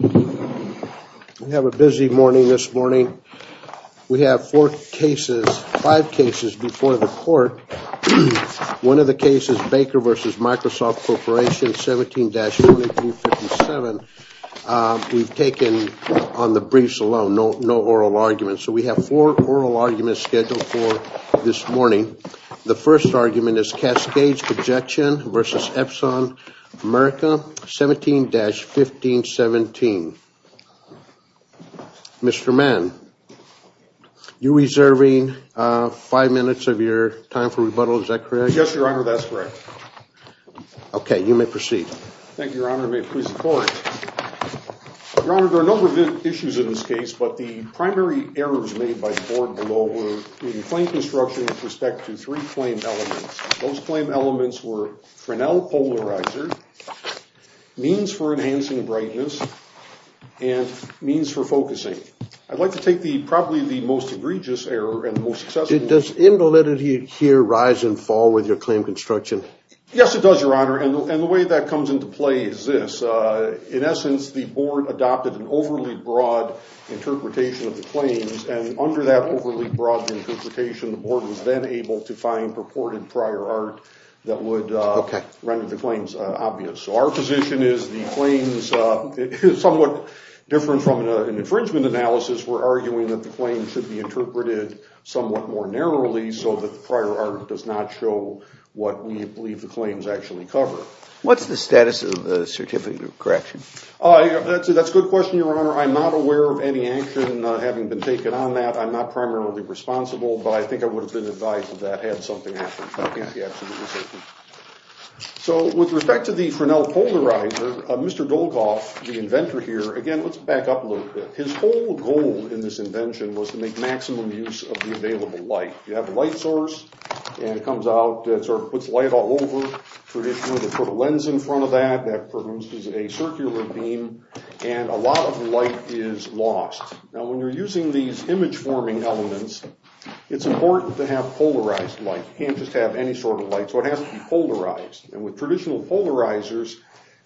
We have a busy morning this morning. We have four cases, five cases before the court. One of the cases, Baker versus Microsoft Corporation 17-1357. We've taken on the briefs alone, no oral arguments. So we have four oral arguments scheduled for this morning. The first argument is Cascades Projection versus Epson America 17-1517. Mr. Mann, you're reserving five minutes of your time for rebuttal, is that correct? Yes, your honor, that's correct. Okay, you may proceed. Thank you, your honor, may it please the court. Your honor, there are a number of issues in this case, but the primary errors made by the board below were the claim construction with respect to three claim elements. Those claim elements were Fresnel polarizer, means for enhancing brightness, and means for focusing. I'd like to take the probably the most egregious error and the most successful one. Does invalidity here rise and fall with your claim construction? Yes, it does, your honor, and the way that comes into play is this. In essence, the board adopted an overly broad interpretation of the claims, and under that overly broad interpretation, the board was then unable to find purported prior art that would render the claims obvious. So our position is the claims, somewhat different from an infringement analysis, we're arguing that the claim should be interpreted somewhat more narrowly so that the prior art does not show what we believe the claims actually cover. What's the status of the certificate of correction? That's a good question, your honor. I'm not aware of any action having been taken on that. I'm not primarily responsible, but I think I would have been advised if that had something happened. So with respect to the Fresnel polarizer, Mr. Goldkopf, the inventor here, again, let's back up a little bit. His whole goal in this invention was to make maximum use of the available light. You have a light source, and it comes out that sort of puts light all over, put a lens in front of that, that produces a circular beam, and a lot of light is lost. Now when you're using these image-forming elements, it's important to have polarized light. You can't just have any sort of light, so it has to be polarized. And with traditional polarizers,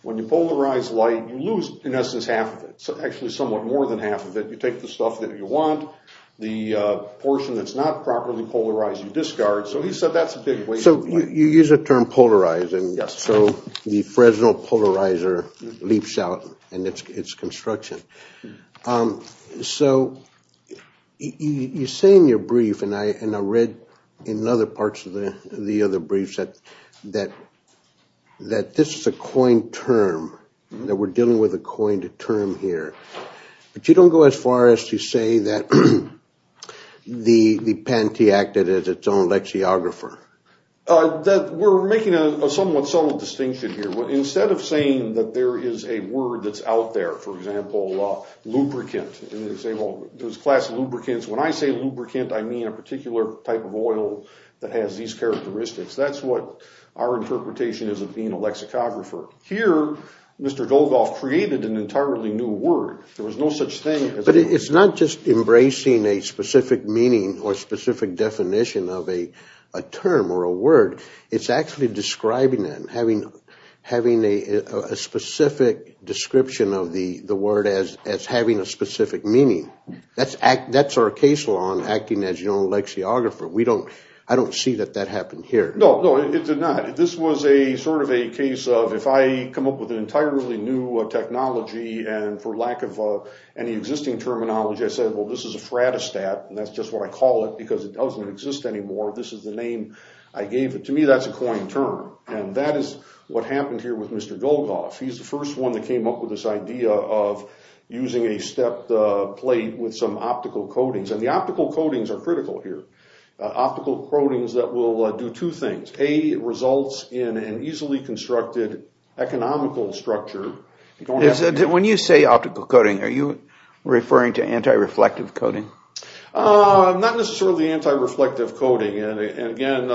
when you polarize light, you lose, in essence, half of it. Actually somewhat more than half of it. You take the stuff that you want, the portion that's not properly polarized, you discard. So he said that's a big way... So you use the term polarizing, so the Fresnel polarizer leaps out in its construction. So you say in your brief, and I read in other parts of the other briefs, that this is a coined term, that we're dealing with a coined term here, but you don't go as far as to say that the Panty acted as its own lexiographer. We're making a somewhat subtle distinction here. Instead of saying that there is a word that's out there, for example, lubricant, and you say, well, there's a class of lubricants. When I say lubricant, I mean a particular type of oil that has these characteristics. That's what our interpretation is of being a lexicographer. Here, Mr. Dolgoff created an entirely new word. There was no such thing... But it's not just embracing a specific meaning or specific definition of a term or a word, it's actually describing it, having a specific description of the word as having a specific meaning. That's our case law on acting as your own lexiographer. I don't see that that happened here. No, no, it did not. This was a sort of a case of, if I come up with an entirely new technology, and for lack of any existing terminology, I said, well, this is a phratostat, and that's just what I call it because it doesn't exist anymore. This is the name I gave it. To me, that's a coined term, and that is what happened here with Mr. Dolgoff. He's the first one that came up with this idea of using a stepped plate with some optical coatings, and the optical coatings are critical here. Optical coatings that will do two things. A, it results in an easily constructed economical structure. When you say optical coating, are you referring to anti-reflective coating? And again,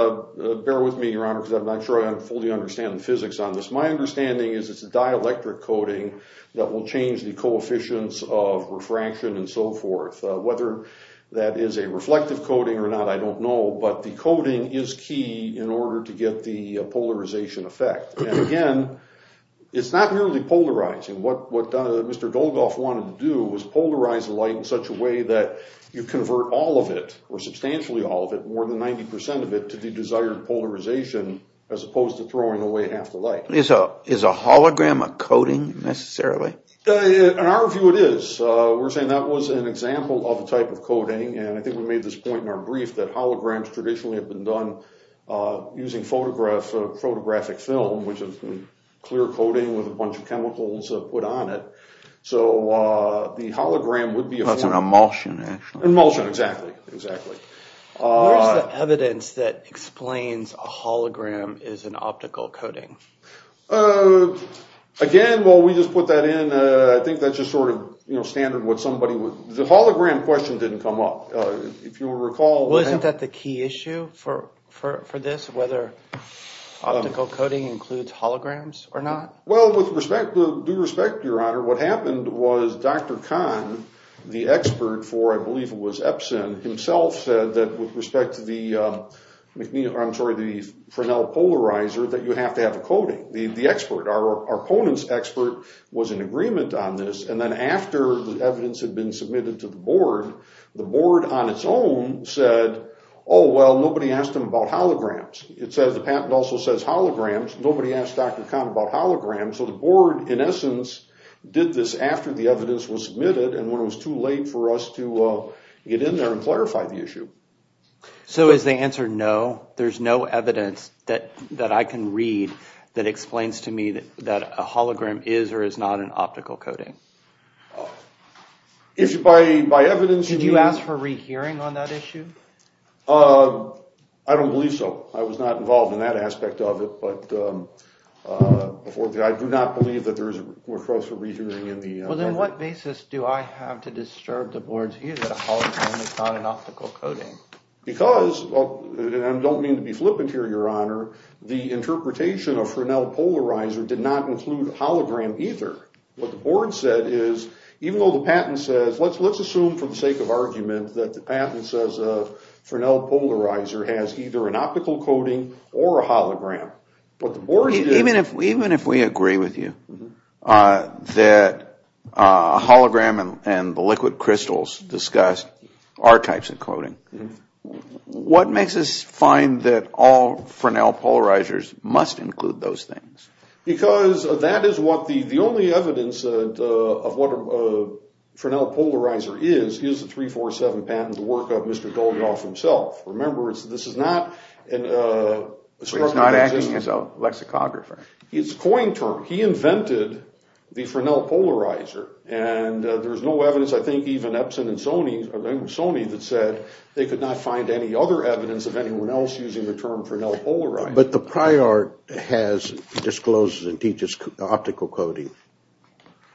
bear with me, Your Honor, because I'm not sure I fully understand the physics on this. My understanding is it's a dielectric coating that will change the coefficients of refraction and so forth. Whether that is a reflective coating or not, I don't know, but the coating is key in order to get the polarization effect. And again, it's not merely polarizing. What Mr. Dolgoff wanted to do was polarize the light in such a way that you convert all of it, more than 90% of it, to the desired polarization, as opposed to throwing away half the light. Is a hologram a coating, necessarily? In our view, it is. We're saying that was an example of a type of coating, and I think we made this point in our brief that holograms traditionally have been done using photographic film, which is a clear coating with a bunch of chemicals put on it. So the hologram would be a form... That's an emulsion, actually. Emulsion, exactly, exactly. Where's the evidence that explains a hologram is an optical coating? Again, well, we just put that in. I think that's just sort of, you know, standard what somebody would... The hologram question didn't come up. If you recall... Wasn't that the key issue for this, whether optical coating includes holograms or not? Well, with respect, due respect, Your Honor, what happened was Dr. Kahn, the expert for, I believe it was Epson, himself said that with respect to the Pranell polarizer, that you have to have a coating. The expert, our opponent's expert, was in agreement on this, and then after the evidence had been submitted to the board, the board on its own said, oh well, nobody asked him about holograms. It says the patent also says holograms. Nobody asked Dr. Kahn about holograms, so the board, in essence, did this after the evidence was submitted, and when it was too late for us to get in there and clarify the issue. So is the answer no? There's no evidence that I can read that explains to me that a hologram is or is not an optical coating? If you, by evidence... Did you ask for rehearing on that issue? I don't believe so. I was not involved in that aspect of it, but I do not believe that there's a request for rehearing. Well, then what basis do I have to disturb the board's view that a hologram is not an optical coating? Because, and I don't mean to be flippant here, Your Honor, the interpretation of Pranell polarizer did not include a hologram either. What the board said is, even though the patent says, let's assume for the sake of argument that the hologram, but the board... Even if we agree with you that a hologram and the liquid crystals discussed are types of coating, what makes us find that all Pranell polarizers must include those things? Because that is what the only evidence of what a Pranell polarizer is, is the 347 patent, the work of Mr. Dolgoff himself. Remember, this is not... He's not acting as a lexicographer. It's a coin term. He invented the Pranell polarizer, and there's no evidence, I think, even Epson and Sony, Sony that said they could not find any other evidence of anyone else using the term Pranell polarizer. But the prior art has disclosed that it teaches optical coating.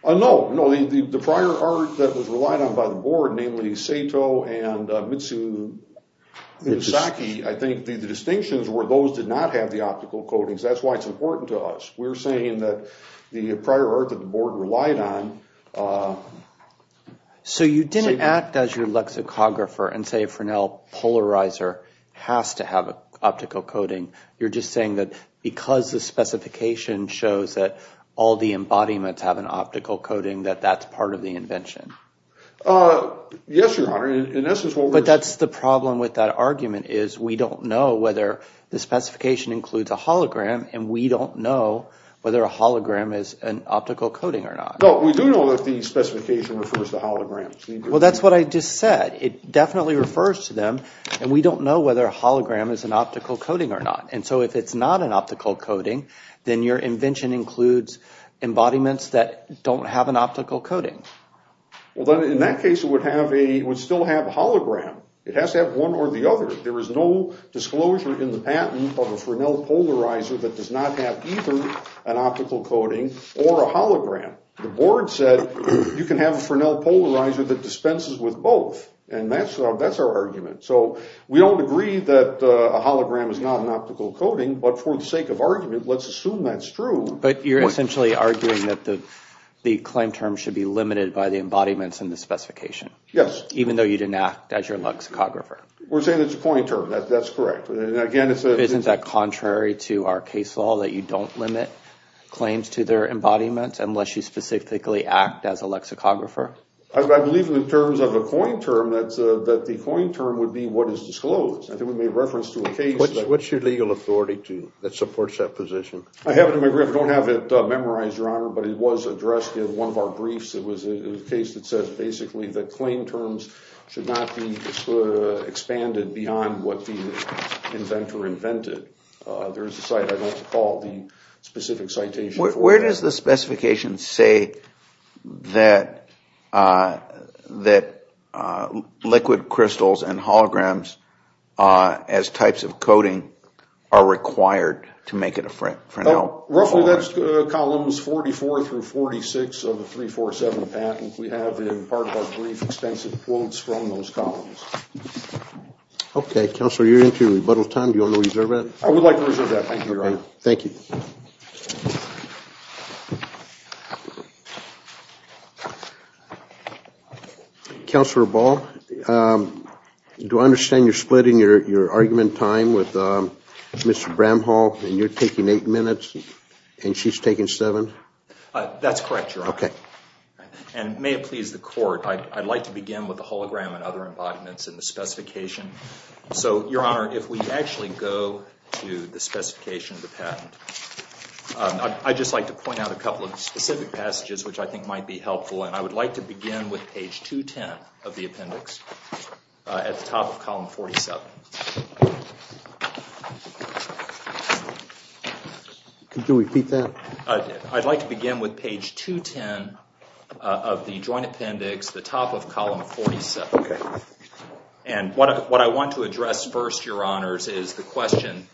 No, no, the prior art that was relied on by the SACI, I think the distinctions were those did not have the optical coatings. That's why it's important to us. We're saying that the prior art that the board relied on... So you didn't act as your lexicographer and say Pranell polarizer has to have an optical coating. You're just saying that because the specification shows that all the embodiments have an optical coating, that that's part of the invention. Yes, Your Honor, in essence... But that's the problem with that argument is we don't know whether the specification includes a hologram, and we don't know whether a hologram is an optical coating or not. No, we do know that the specification refers to holograms. Well, that's what I just said. It definitely refers to them, and we don't know whether a hologram is an optical coating or not. And so if it's not an optical coating, then your coding. Well, then in that case it would still have a hologram. It has to have one or the other. There is no disclosure in the patent of a Pranell polarizer that does not have either an optical coating or a hologram. The board said you can have a Pranell polarizer that dispenses with both, and that's our argument. So we don't agree that a hologram is not an optical coating, but for the sake of argument, let's assume that's true. But you're essentially arguing that the claim term should be limited by the embodiments in the specification. Yes. Even though you didn't act as your lexicographer. We're saying it's a coin term. That's correct. Isn't that contrary to our case law that you don't limit claims to their embodiments unless you specifically act as a lexicographer? I believe in terms of a coin term that the coin term would be what is disclosed. I think we made reference to a case... What's your legal authority that supports that position? I have it in my brief. I don't have it memorized, Your Honor, but it was addressed in one of our briefs. It was a case that says basically that claim terms should not be expanded beyond what the inventor invented. There is a site I'd like to call the specific citation. Where does the specification say that liquid crystals and holograms as types of 44 through 46 of the 347 patent we have in part of our brief extensive quotes from those columns. Okay, Counselor, you're into rebuttal time. Do you want to reserve that? I would like to reserve that. Thank you, Your Honor. Thank you. Counselor Ball, do I understand you're splitting your argument time with Mr. Bramhall and you're taking eight minutes and she's taking seven? That's correct, Your Honor. Okay. And may it please the court, I'd like to begin with the hologram and other embodiments in the specification. So, Your Honor, if we actually go to the specification of the patent, I'd just like to point out a couple of specific passages which I think might be helpful and I would like to begin with page 210 of the appendix at the top of column 47. Could you repeat that? I'd like to begin with page 210 of the joint appendix at the top of column 47. Okay. And what I want to address first, Your Honors, is the question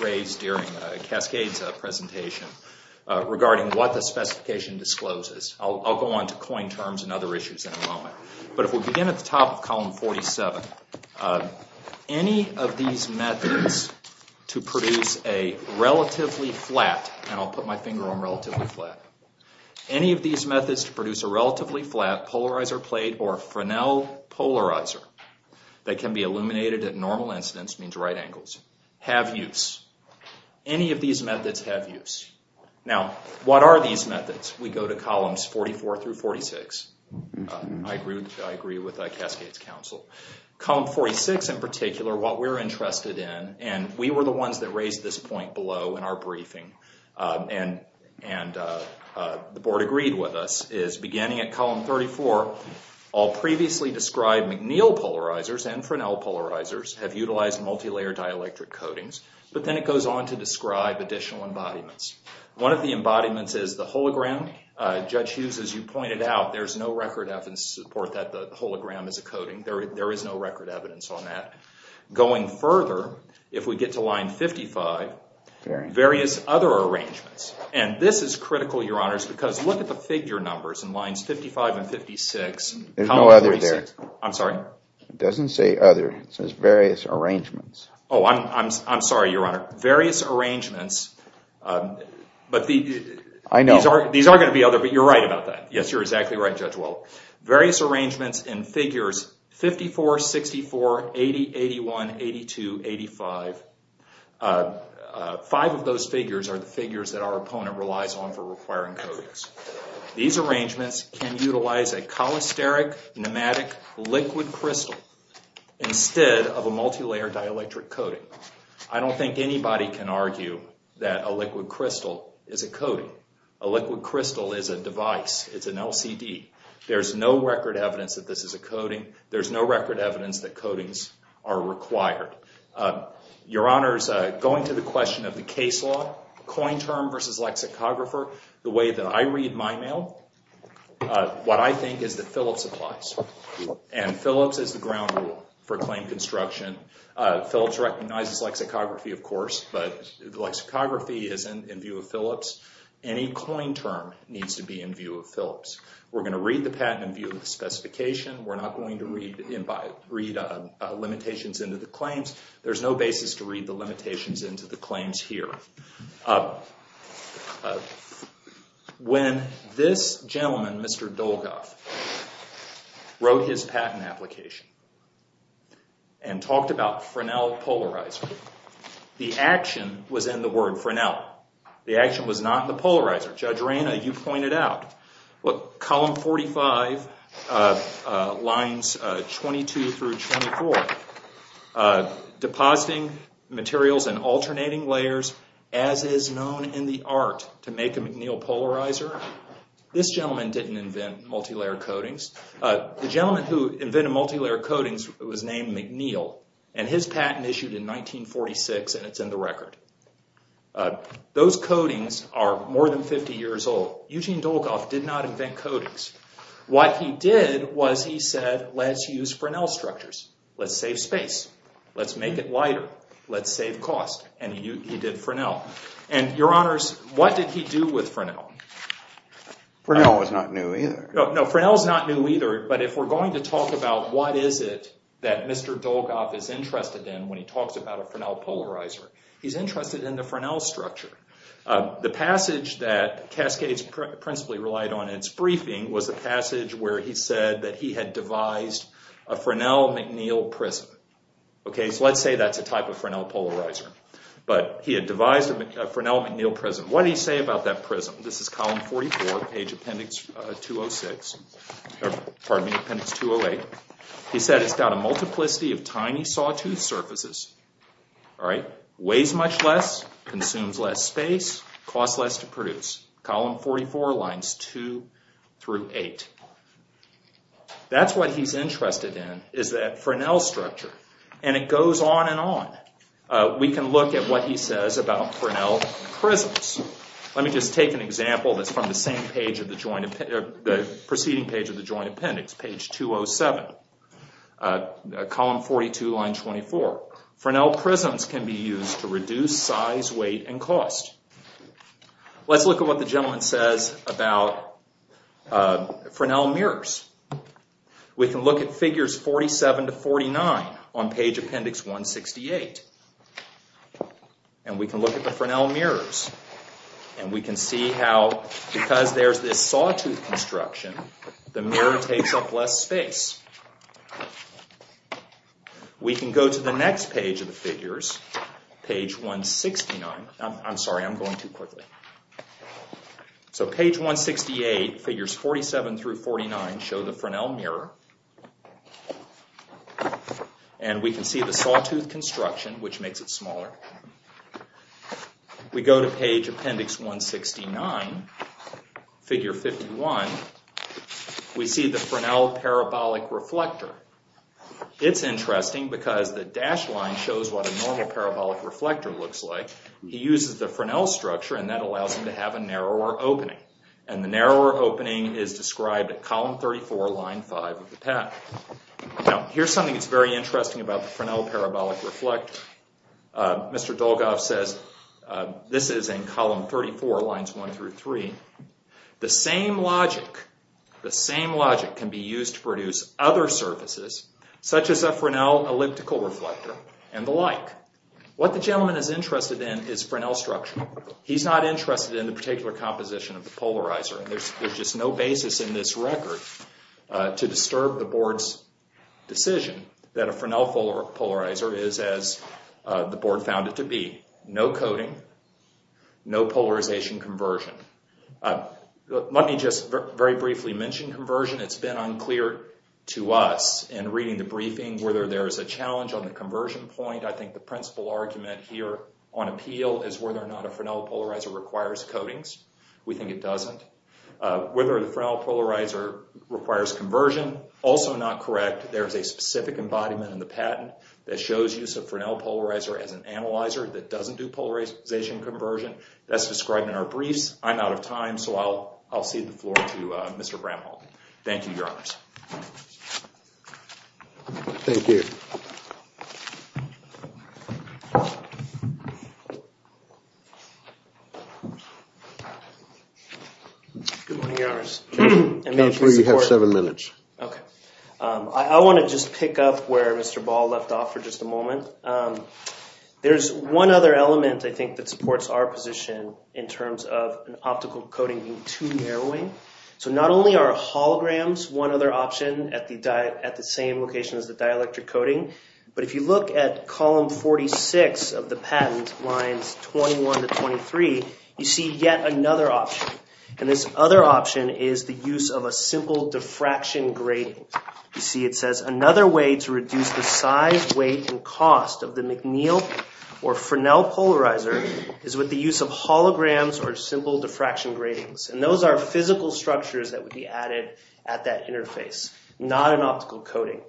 raised during Cascade's presentation regarding what the specification discloses. I'll go on to coin terms and other issues in a moment. But if we begin at the top of column 47, any of these methods to produce a relatively flat, and I'll put my finger on relatively flat, any of these methods to produce a relatively flat polarizer plate or Fresnel polarizer that can be illuminated at normal incidents, means right angles, have use. Any of these methods have use. Now, what are these methods? We go to columns 44 through 46. I agree with Cascade's counsel. Column 46, in particular, what we're interested in, and we were the ones that raised this point below in our briefing, and the board agreed with us, is beginning at column 34, all previously described McNeil polarizers and Fresnel polarizers have utilized multi-layer dielectric coatings, but then it goes on to describe additional embodiments. One of the embodiments is the hologram. Judge Hughes, as you pointed out, there's no record evidence to support that the hologram is a coating. There is no record evidence on that. Going further, if we get to line 55, various other arrangements, and this is critical, Your Honors, because look at the figure numbers in lines 55 and 56. There's no other there. I'm sorry? It doesn't say other. It says various arrangements. Oh, I'm sorry, Your Honor. Various arrangements, but these are going to be other, but you're right about that. Yes, you're exactly right, Judge Weld. Various arrangements in figures 54, 64, 80, 81, 82, 85. Five of those figures are the figures that our opponent relies on for requiring coatings. These arrangements can utilize a I don't think anybody can argue that a liquid crystal is a coating. A liquid crystal is a device. It's an LCD. There's no record evidence that this is a coating. There's no record evidence that coatings are required. Your Honors, going to the question of the case law, coin term versus lexicographer, the way that I read my mail, what I think is that Phillips applies, and Phillips is the ground rule for claim construction. Phillips recognizes lexicography, of course, but lexicography isn't in view of Phillips. Any coin term needs to be in view of Phillips. We're going to read the patent in view of the specification. We're not going to read limitations into the claims. There's no basis to read the limitations into the claims here. When this gentleman, Mr. Dolgoff, wrote his patent application and talked about Fresnel polarizer, the action was in the word Fresnel. The action was not in the polarizer. Judge Reyna, you pointed out, look, column 45, lines 22 through 24, depositing materials in alternating layers, as is known in the art, to make a McNeil polarizer. This gentleman didn't invent multilayer coatings. The gentleman who invented multilayer coatings was named McNeil, and his patent issued in 1946, and it's in the record. Those coatings are more than 50 years old. Eugene Dolgoff did not invent coatings. What he did was he said, let's use Fresnel structures. Let's save space. Let's make it lighter. Let's save cost, and he did Fresnel. And your honors, what did he do with Fresnel? Fresnel was not new either. No, Fresnel's not new either, but if we're going to talk about what is it that Mr. Dolgoff is interested in when he talks about a Fresnel polarizer, he's interested in the Fresnel structure. The passage that Cascades principally relied on in its briefing was the passage where he said that he had devised a Fresnel-McNeil prism. So let's say that's a type of Fresnel polarizer, but he had devised a Fresnel-McNeil prism. What did he say about that prism? This is column 44, page appendix 208. He said it's got a multiplicity of tiny sawtooth surfaces, weighs much less, consumes less space, costs less to produce. Column 44, lines 2 through 8. That's what he's interested in is that Fresnel structure, and it goes on and on. We can look at what he says about Fresnel prisms. Let me just take an example that's the same page, the preceding page of the joint appendix, page 207, column 42, line 24. Fresnel prisms can be used to reduce size, weight, and cost. Let's look at what the gentleman says about Fresnel mirrors. We can look at figures 47 to 49 on page appendix 168, and we can look at the Fresnel mirrors, and we can see how because there's this sawtooth construction, the mirror takes up less space. We can go to the next page of the figures, page 169. I'm sorry, I'm going too quickly. So page 168, figures 47 through 49 show the Fresnel mirror, and we can see the sawtooth construction, which makes it smaller. We go to page appendix 169, figure 51. We see the Fresnel parabolic reflector. It's interesting because the dashed line shows what a normal parabolic reflector looks like. He uses the Fresnel structure, and that allows him to have a narrower opening, and the narrower opening is described at column 34, line 5 of the pack. Now, here's something that's very interesting about the Fresnel parabolic reflector. Mr. Dolgoff says this is in column 34, lines 1 through 3. The same logic can be used to produce other surfaces, such as a Fresnel elliptical reflector, and the like. What the gentleman is interested in is Fresnel structure. He's not interested in the particular composition of the polarizer. There's just no basis in this record to disturb the board's decision that a Fresnel polarizer is as the board found it to be. No coding, no polarization conversion. Let me just very briefly mention conversion. It's been unclear to us in reading the briefing whether there's a challenge on the conversion point. I think the principal argument here on appeal is whether or not a Fresnel polarizer requires coatings. It doesn't. Whether the Fresnel polarizer requires conversion, also not correct. There's a specific embodiment in the patent that shows use of Fresnel polarizer as an analyzer that doesn't do polarization conversion. That's described in our briefs. I'm out of time, so I'll cede the floor to Mr. Bramhall. Thank you, your honors. Thank you. Good morning, your honors. Counselor, you have seven minutes. Okay. I want to just pick up where Mr. Ball left off for just a moment. There's one other element, I think, that supports our position in terms of an optical coating being too narrowing. Not only are holograms one other option at the same location as the dielectric coating, but if you look at column 46 of the patent, lines 21 to 23, you see yet another option. This other option is the use of a simple diffraction grating. You see it says, another way to reduce the size, weight, and cost of the McNeil or Fresnel polarizer is with the use of holograms or simple diffraction gratings. Those are physical structures that would be added at that interface, not an optical coating.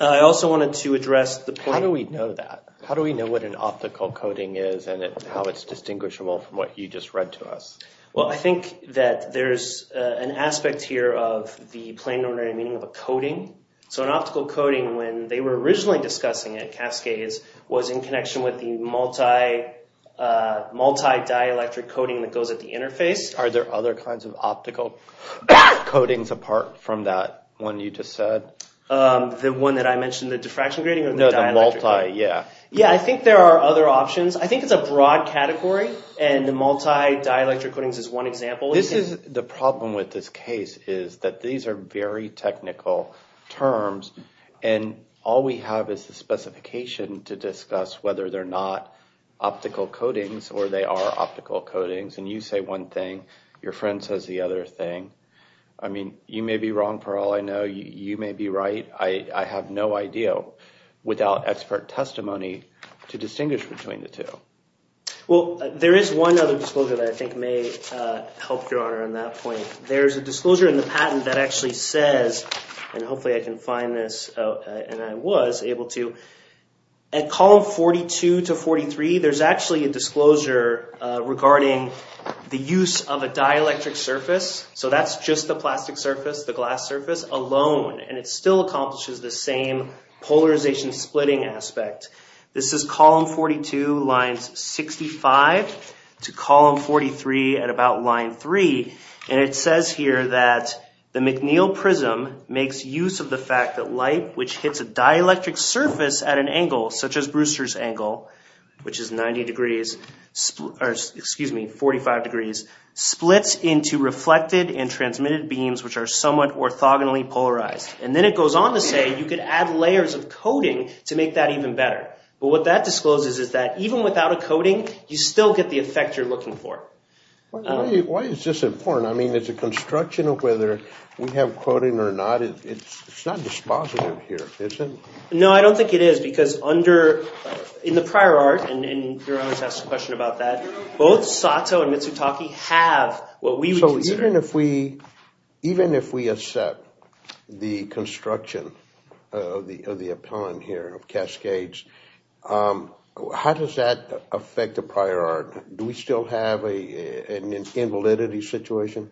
I also wanted to address the point- How do we know that? How do we know what an optical coating is and how it's distinguishable from what you just read to us? Well, I think that there's an aspect here of the plain ordinary meaning of a coating. An optical coating, when they were originally discussing it, Cascades, was in connection with the multi-dielectric coating that goes at the interface. Are there other kinds of optical coatings apart from that one you just said? The one that I mentioned, the diffraction grating or the dielectric? No, the multi, yeah. Yeah, I think there are other options. I think it's a broad category and the multi-dielectric coatings is one example. The problem with this case is that these are very technical terms and all we have is the specification to discuss whether they're not optical coatings or they are optical coatings. You say one thing, your friend says the other thing. I mean, you may be wrong for all I know. You may be right. I have no idea without expert testimony to distinguish between the two. Well, there is one other disclosure that I think may help your honor on that point. There's a disclosure in the patent that actually says, and hopefully I can find this and I was able to, at column 42 to 43, there's actually a disclosure regarding the use of a dielectric surface. So that's just the plastic surface, the glass surface alone, and it still accomplishes the same polarization splitting aspect. This is column 42, lines 65 to column 43 at about line three. And it says here that the McNeil prism makes use of the fact that light, which hits a dielectric surface at an angle, such as Brewster's angle, which is 90 degrees, excuse me, 45 degrees, splits into reflected and transmitted beams, which are somewhat orthogonally polarized. And then it goes on to say you could add layers of coating to make that even better. But what that discloses is that even without a coating, you still get the effect you're looking for. Why is this important? I mean, it's a construction of whether we have coating or not, it's not dispositive here, is it? No, I don't think it is, because under, in the prior art, and your honor's asked a question about that, both Sato and Mitsutaki have what we would consider. So even if we, even if we accept the construction of the appellant here of Cascades, how does that affect the prior art? Do we still have an invalidity situation?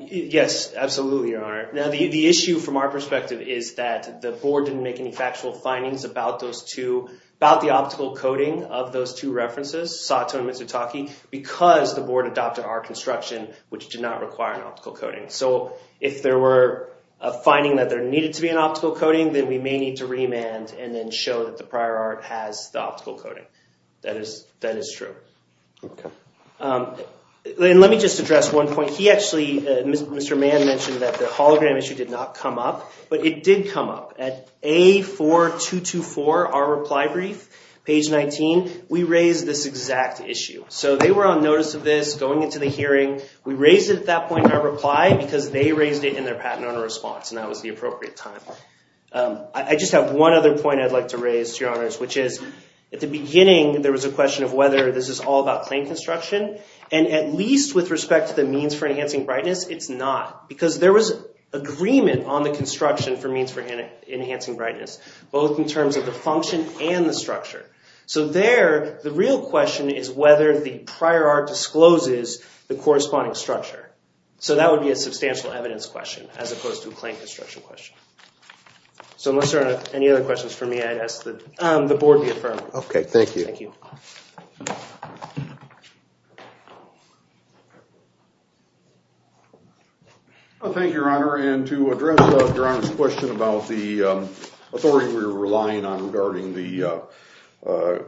Yes, absolutely, your honor. Now the issue from our perspective is that the board didn't make any factual findings about those two, about the optical coating of those two references, Sato and Mitsutaki, because the board adopted our construction, which did not require an optical coating. So if there were a finding that there needed to be an optical coating, then we may need to remand and then show that the prior art has the optical coating. That is true. Okay. And let me just address one point. He actually, Mr. Mann mentioned that the hologram issue did not come up, but it did come up. At A4224, our reply brief, page 19, we raised this exact issue. So they were on notice of this, going into the hearing. We raised it at that point in our reply, because they raised it in their patent owner response, and that was the appropriate time. I just have one other point I'd like to raise to your honors, which is, at the beginning, there was a question of whether this is all about claim construction, and at least with respect to the means for enhancing brightness, it's not. Because there was agreement on the construction for means for enhancing brightness, both in terms of the function and the structure. So there, the real question is whether the prior art discloses the corresponding structure. So that would be a substantial evidence question, as opposed to a So unless there are any other questions for me, I'd ask that the board be affirmed. Okay, thank you. Thank you. Well, thank you, your honor. And to address your honor's question about the authority we're relying on regarding the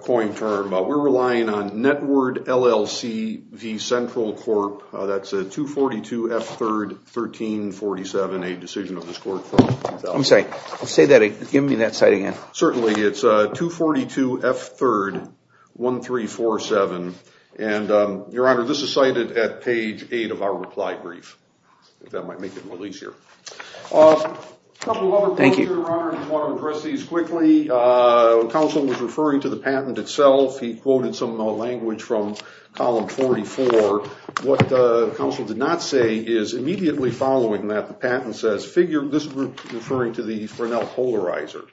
coin term, we're relying on NETWRD LLC v. Central Corp. That's a 242 F3rd 1347, a decision of this court. I'm sorry, give me that site again. Certainly, it's 242 F3rd 1347, and your honor, this is cited at page 8 of our reply brief. If that might make it more easier. A couple other points, your honor, I just want to address these quickly. When counsel was referring to the patent itself, he quoted some language from column 44. What counsel did not say is, immediately following that, the patent says, this is referring to the Fresnel polarizer.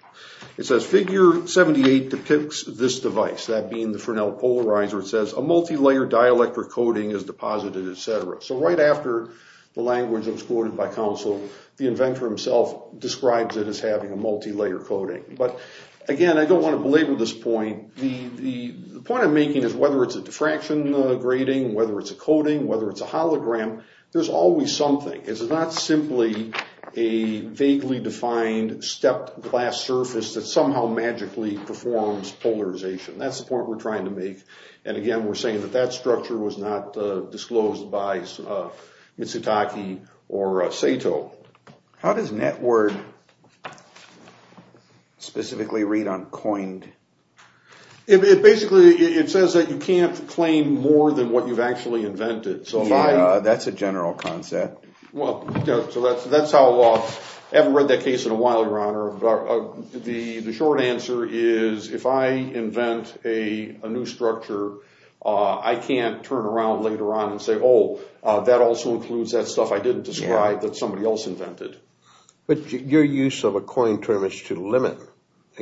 It says, figure 78 depicts this device, that being the Fresnel polarizer. It says, a multi-layer dielectric coating is deposited, etc. So right after the language was quoted by counsel, the inventor himself describes it as having a multi-layer coating. But again, I don't want to belabor this point. The point I'm making is, whether it's a diffraction grading, whether it's a coating, whether it's a hologram, there's always something. It's not simply a vaguely defined stepped glass surface that somehow magically performs polarization. That's the point we're trying to make. And again, we're saying that that structure was not disclosed by Mitsutaki or Sato. How does NetWord specifically read on coined? It basically, it says that you can't claim more than what you've actually invented. Yeah, that's a general concept. So that's how, I haven't read that case in a while, your honor. The short answer is, if I invent a new structure, I can't turn around later on and say, oh, that also includes that stuff I didn't describe that somebody else invented. But your use of a coined term is to limit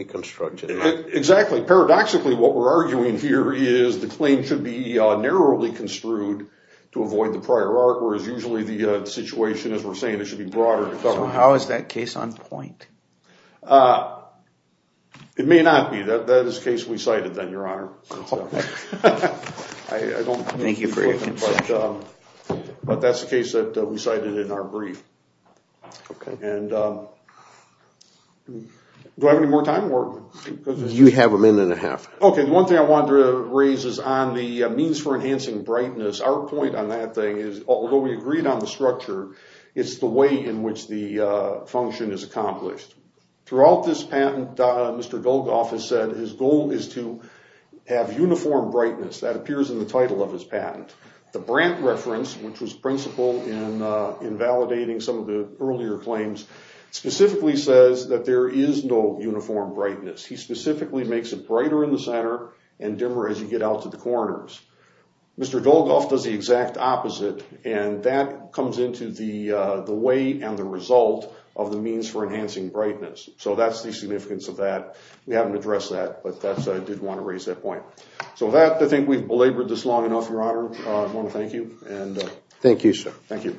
construction. Exactly. Paradoxically, what we're arguing here is the claim should be narrowly construed to avoid the prior art, whereas usually the situation, as we're saying, it should be broader to cover. How is that case on point? It may not be. That is the case we cited then, your honor. I don't think you've heard it, but that's the case that we cited in our brief. Okay. Do I have any more time, Morton? You have a minute and a half. Okay. One thing I wanted to raise is on the means for enhancing brightness. Our point on that thing is, although we agreed on the structure, it's the way in which the function is accomplished. Throughout this patent, Mr. Golgoff has said his goal is to have uniform brightness. That some of the earlier claims specifically says that there is no uniform brightness. He specifically makes it brighter in the center and dimmer as you get out to the corners. Mr. Golgoff does the exact opposite, and that comes into the way and the result of the means for enhancing brightness. That's the significance of that. We haven't addressed that, but I did want to raise that point. I think we've belabored this long enough, your honor. I want to thank you. Thank you, sir. Thank you.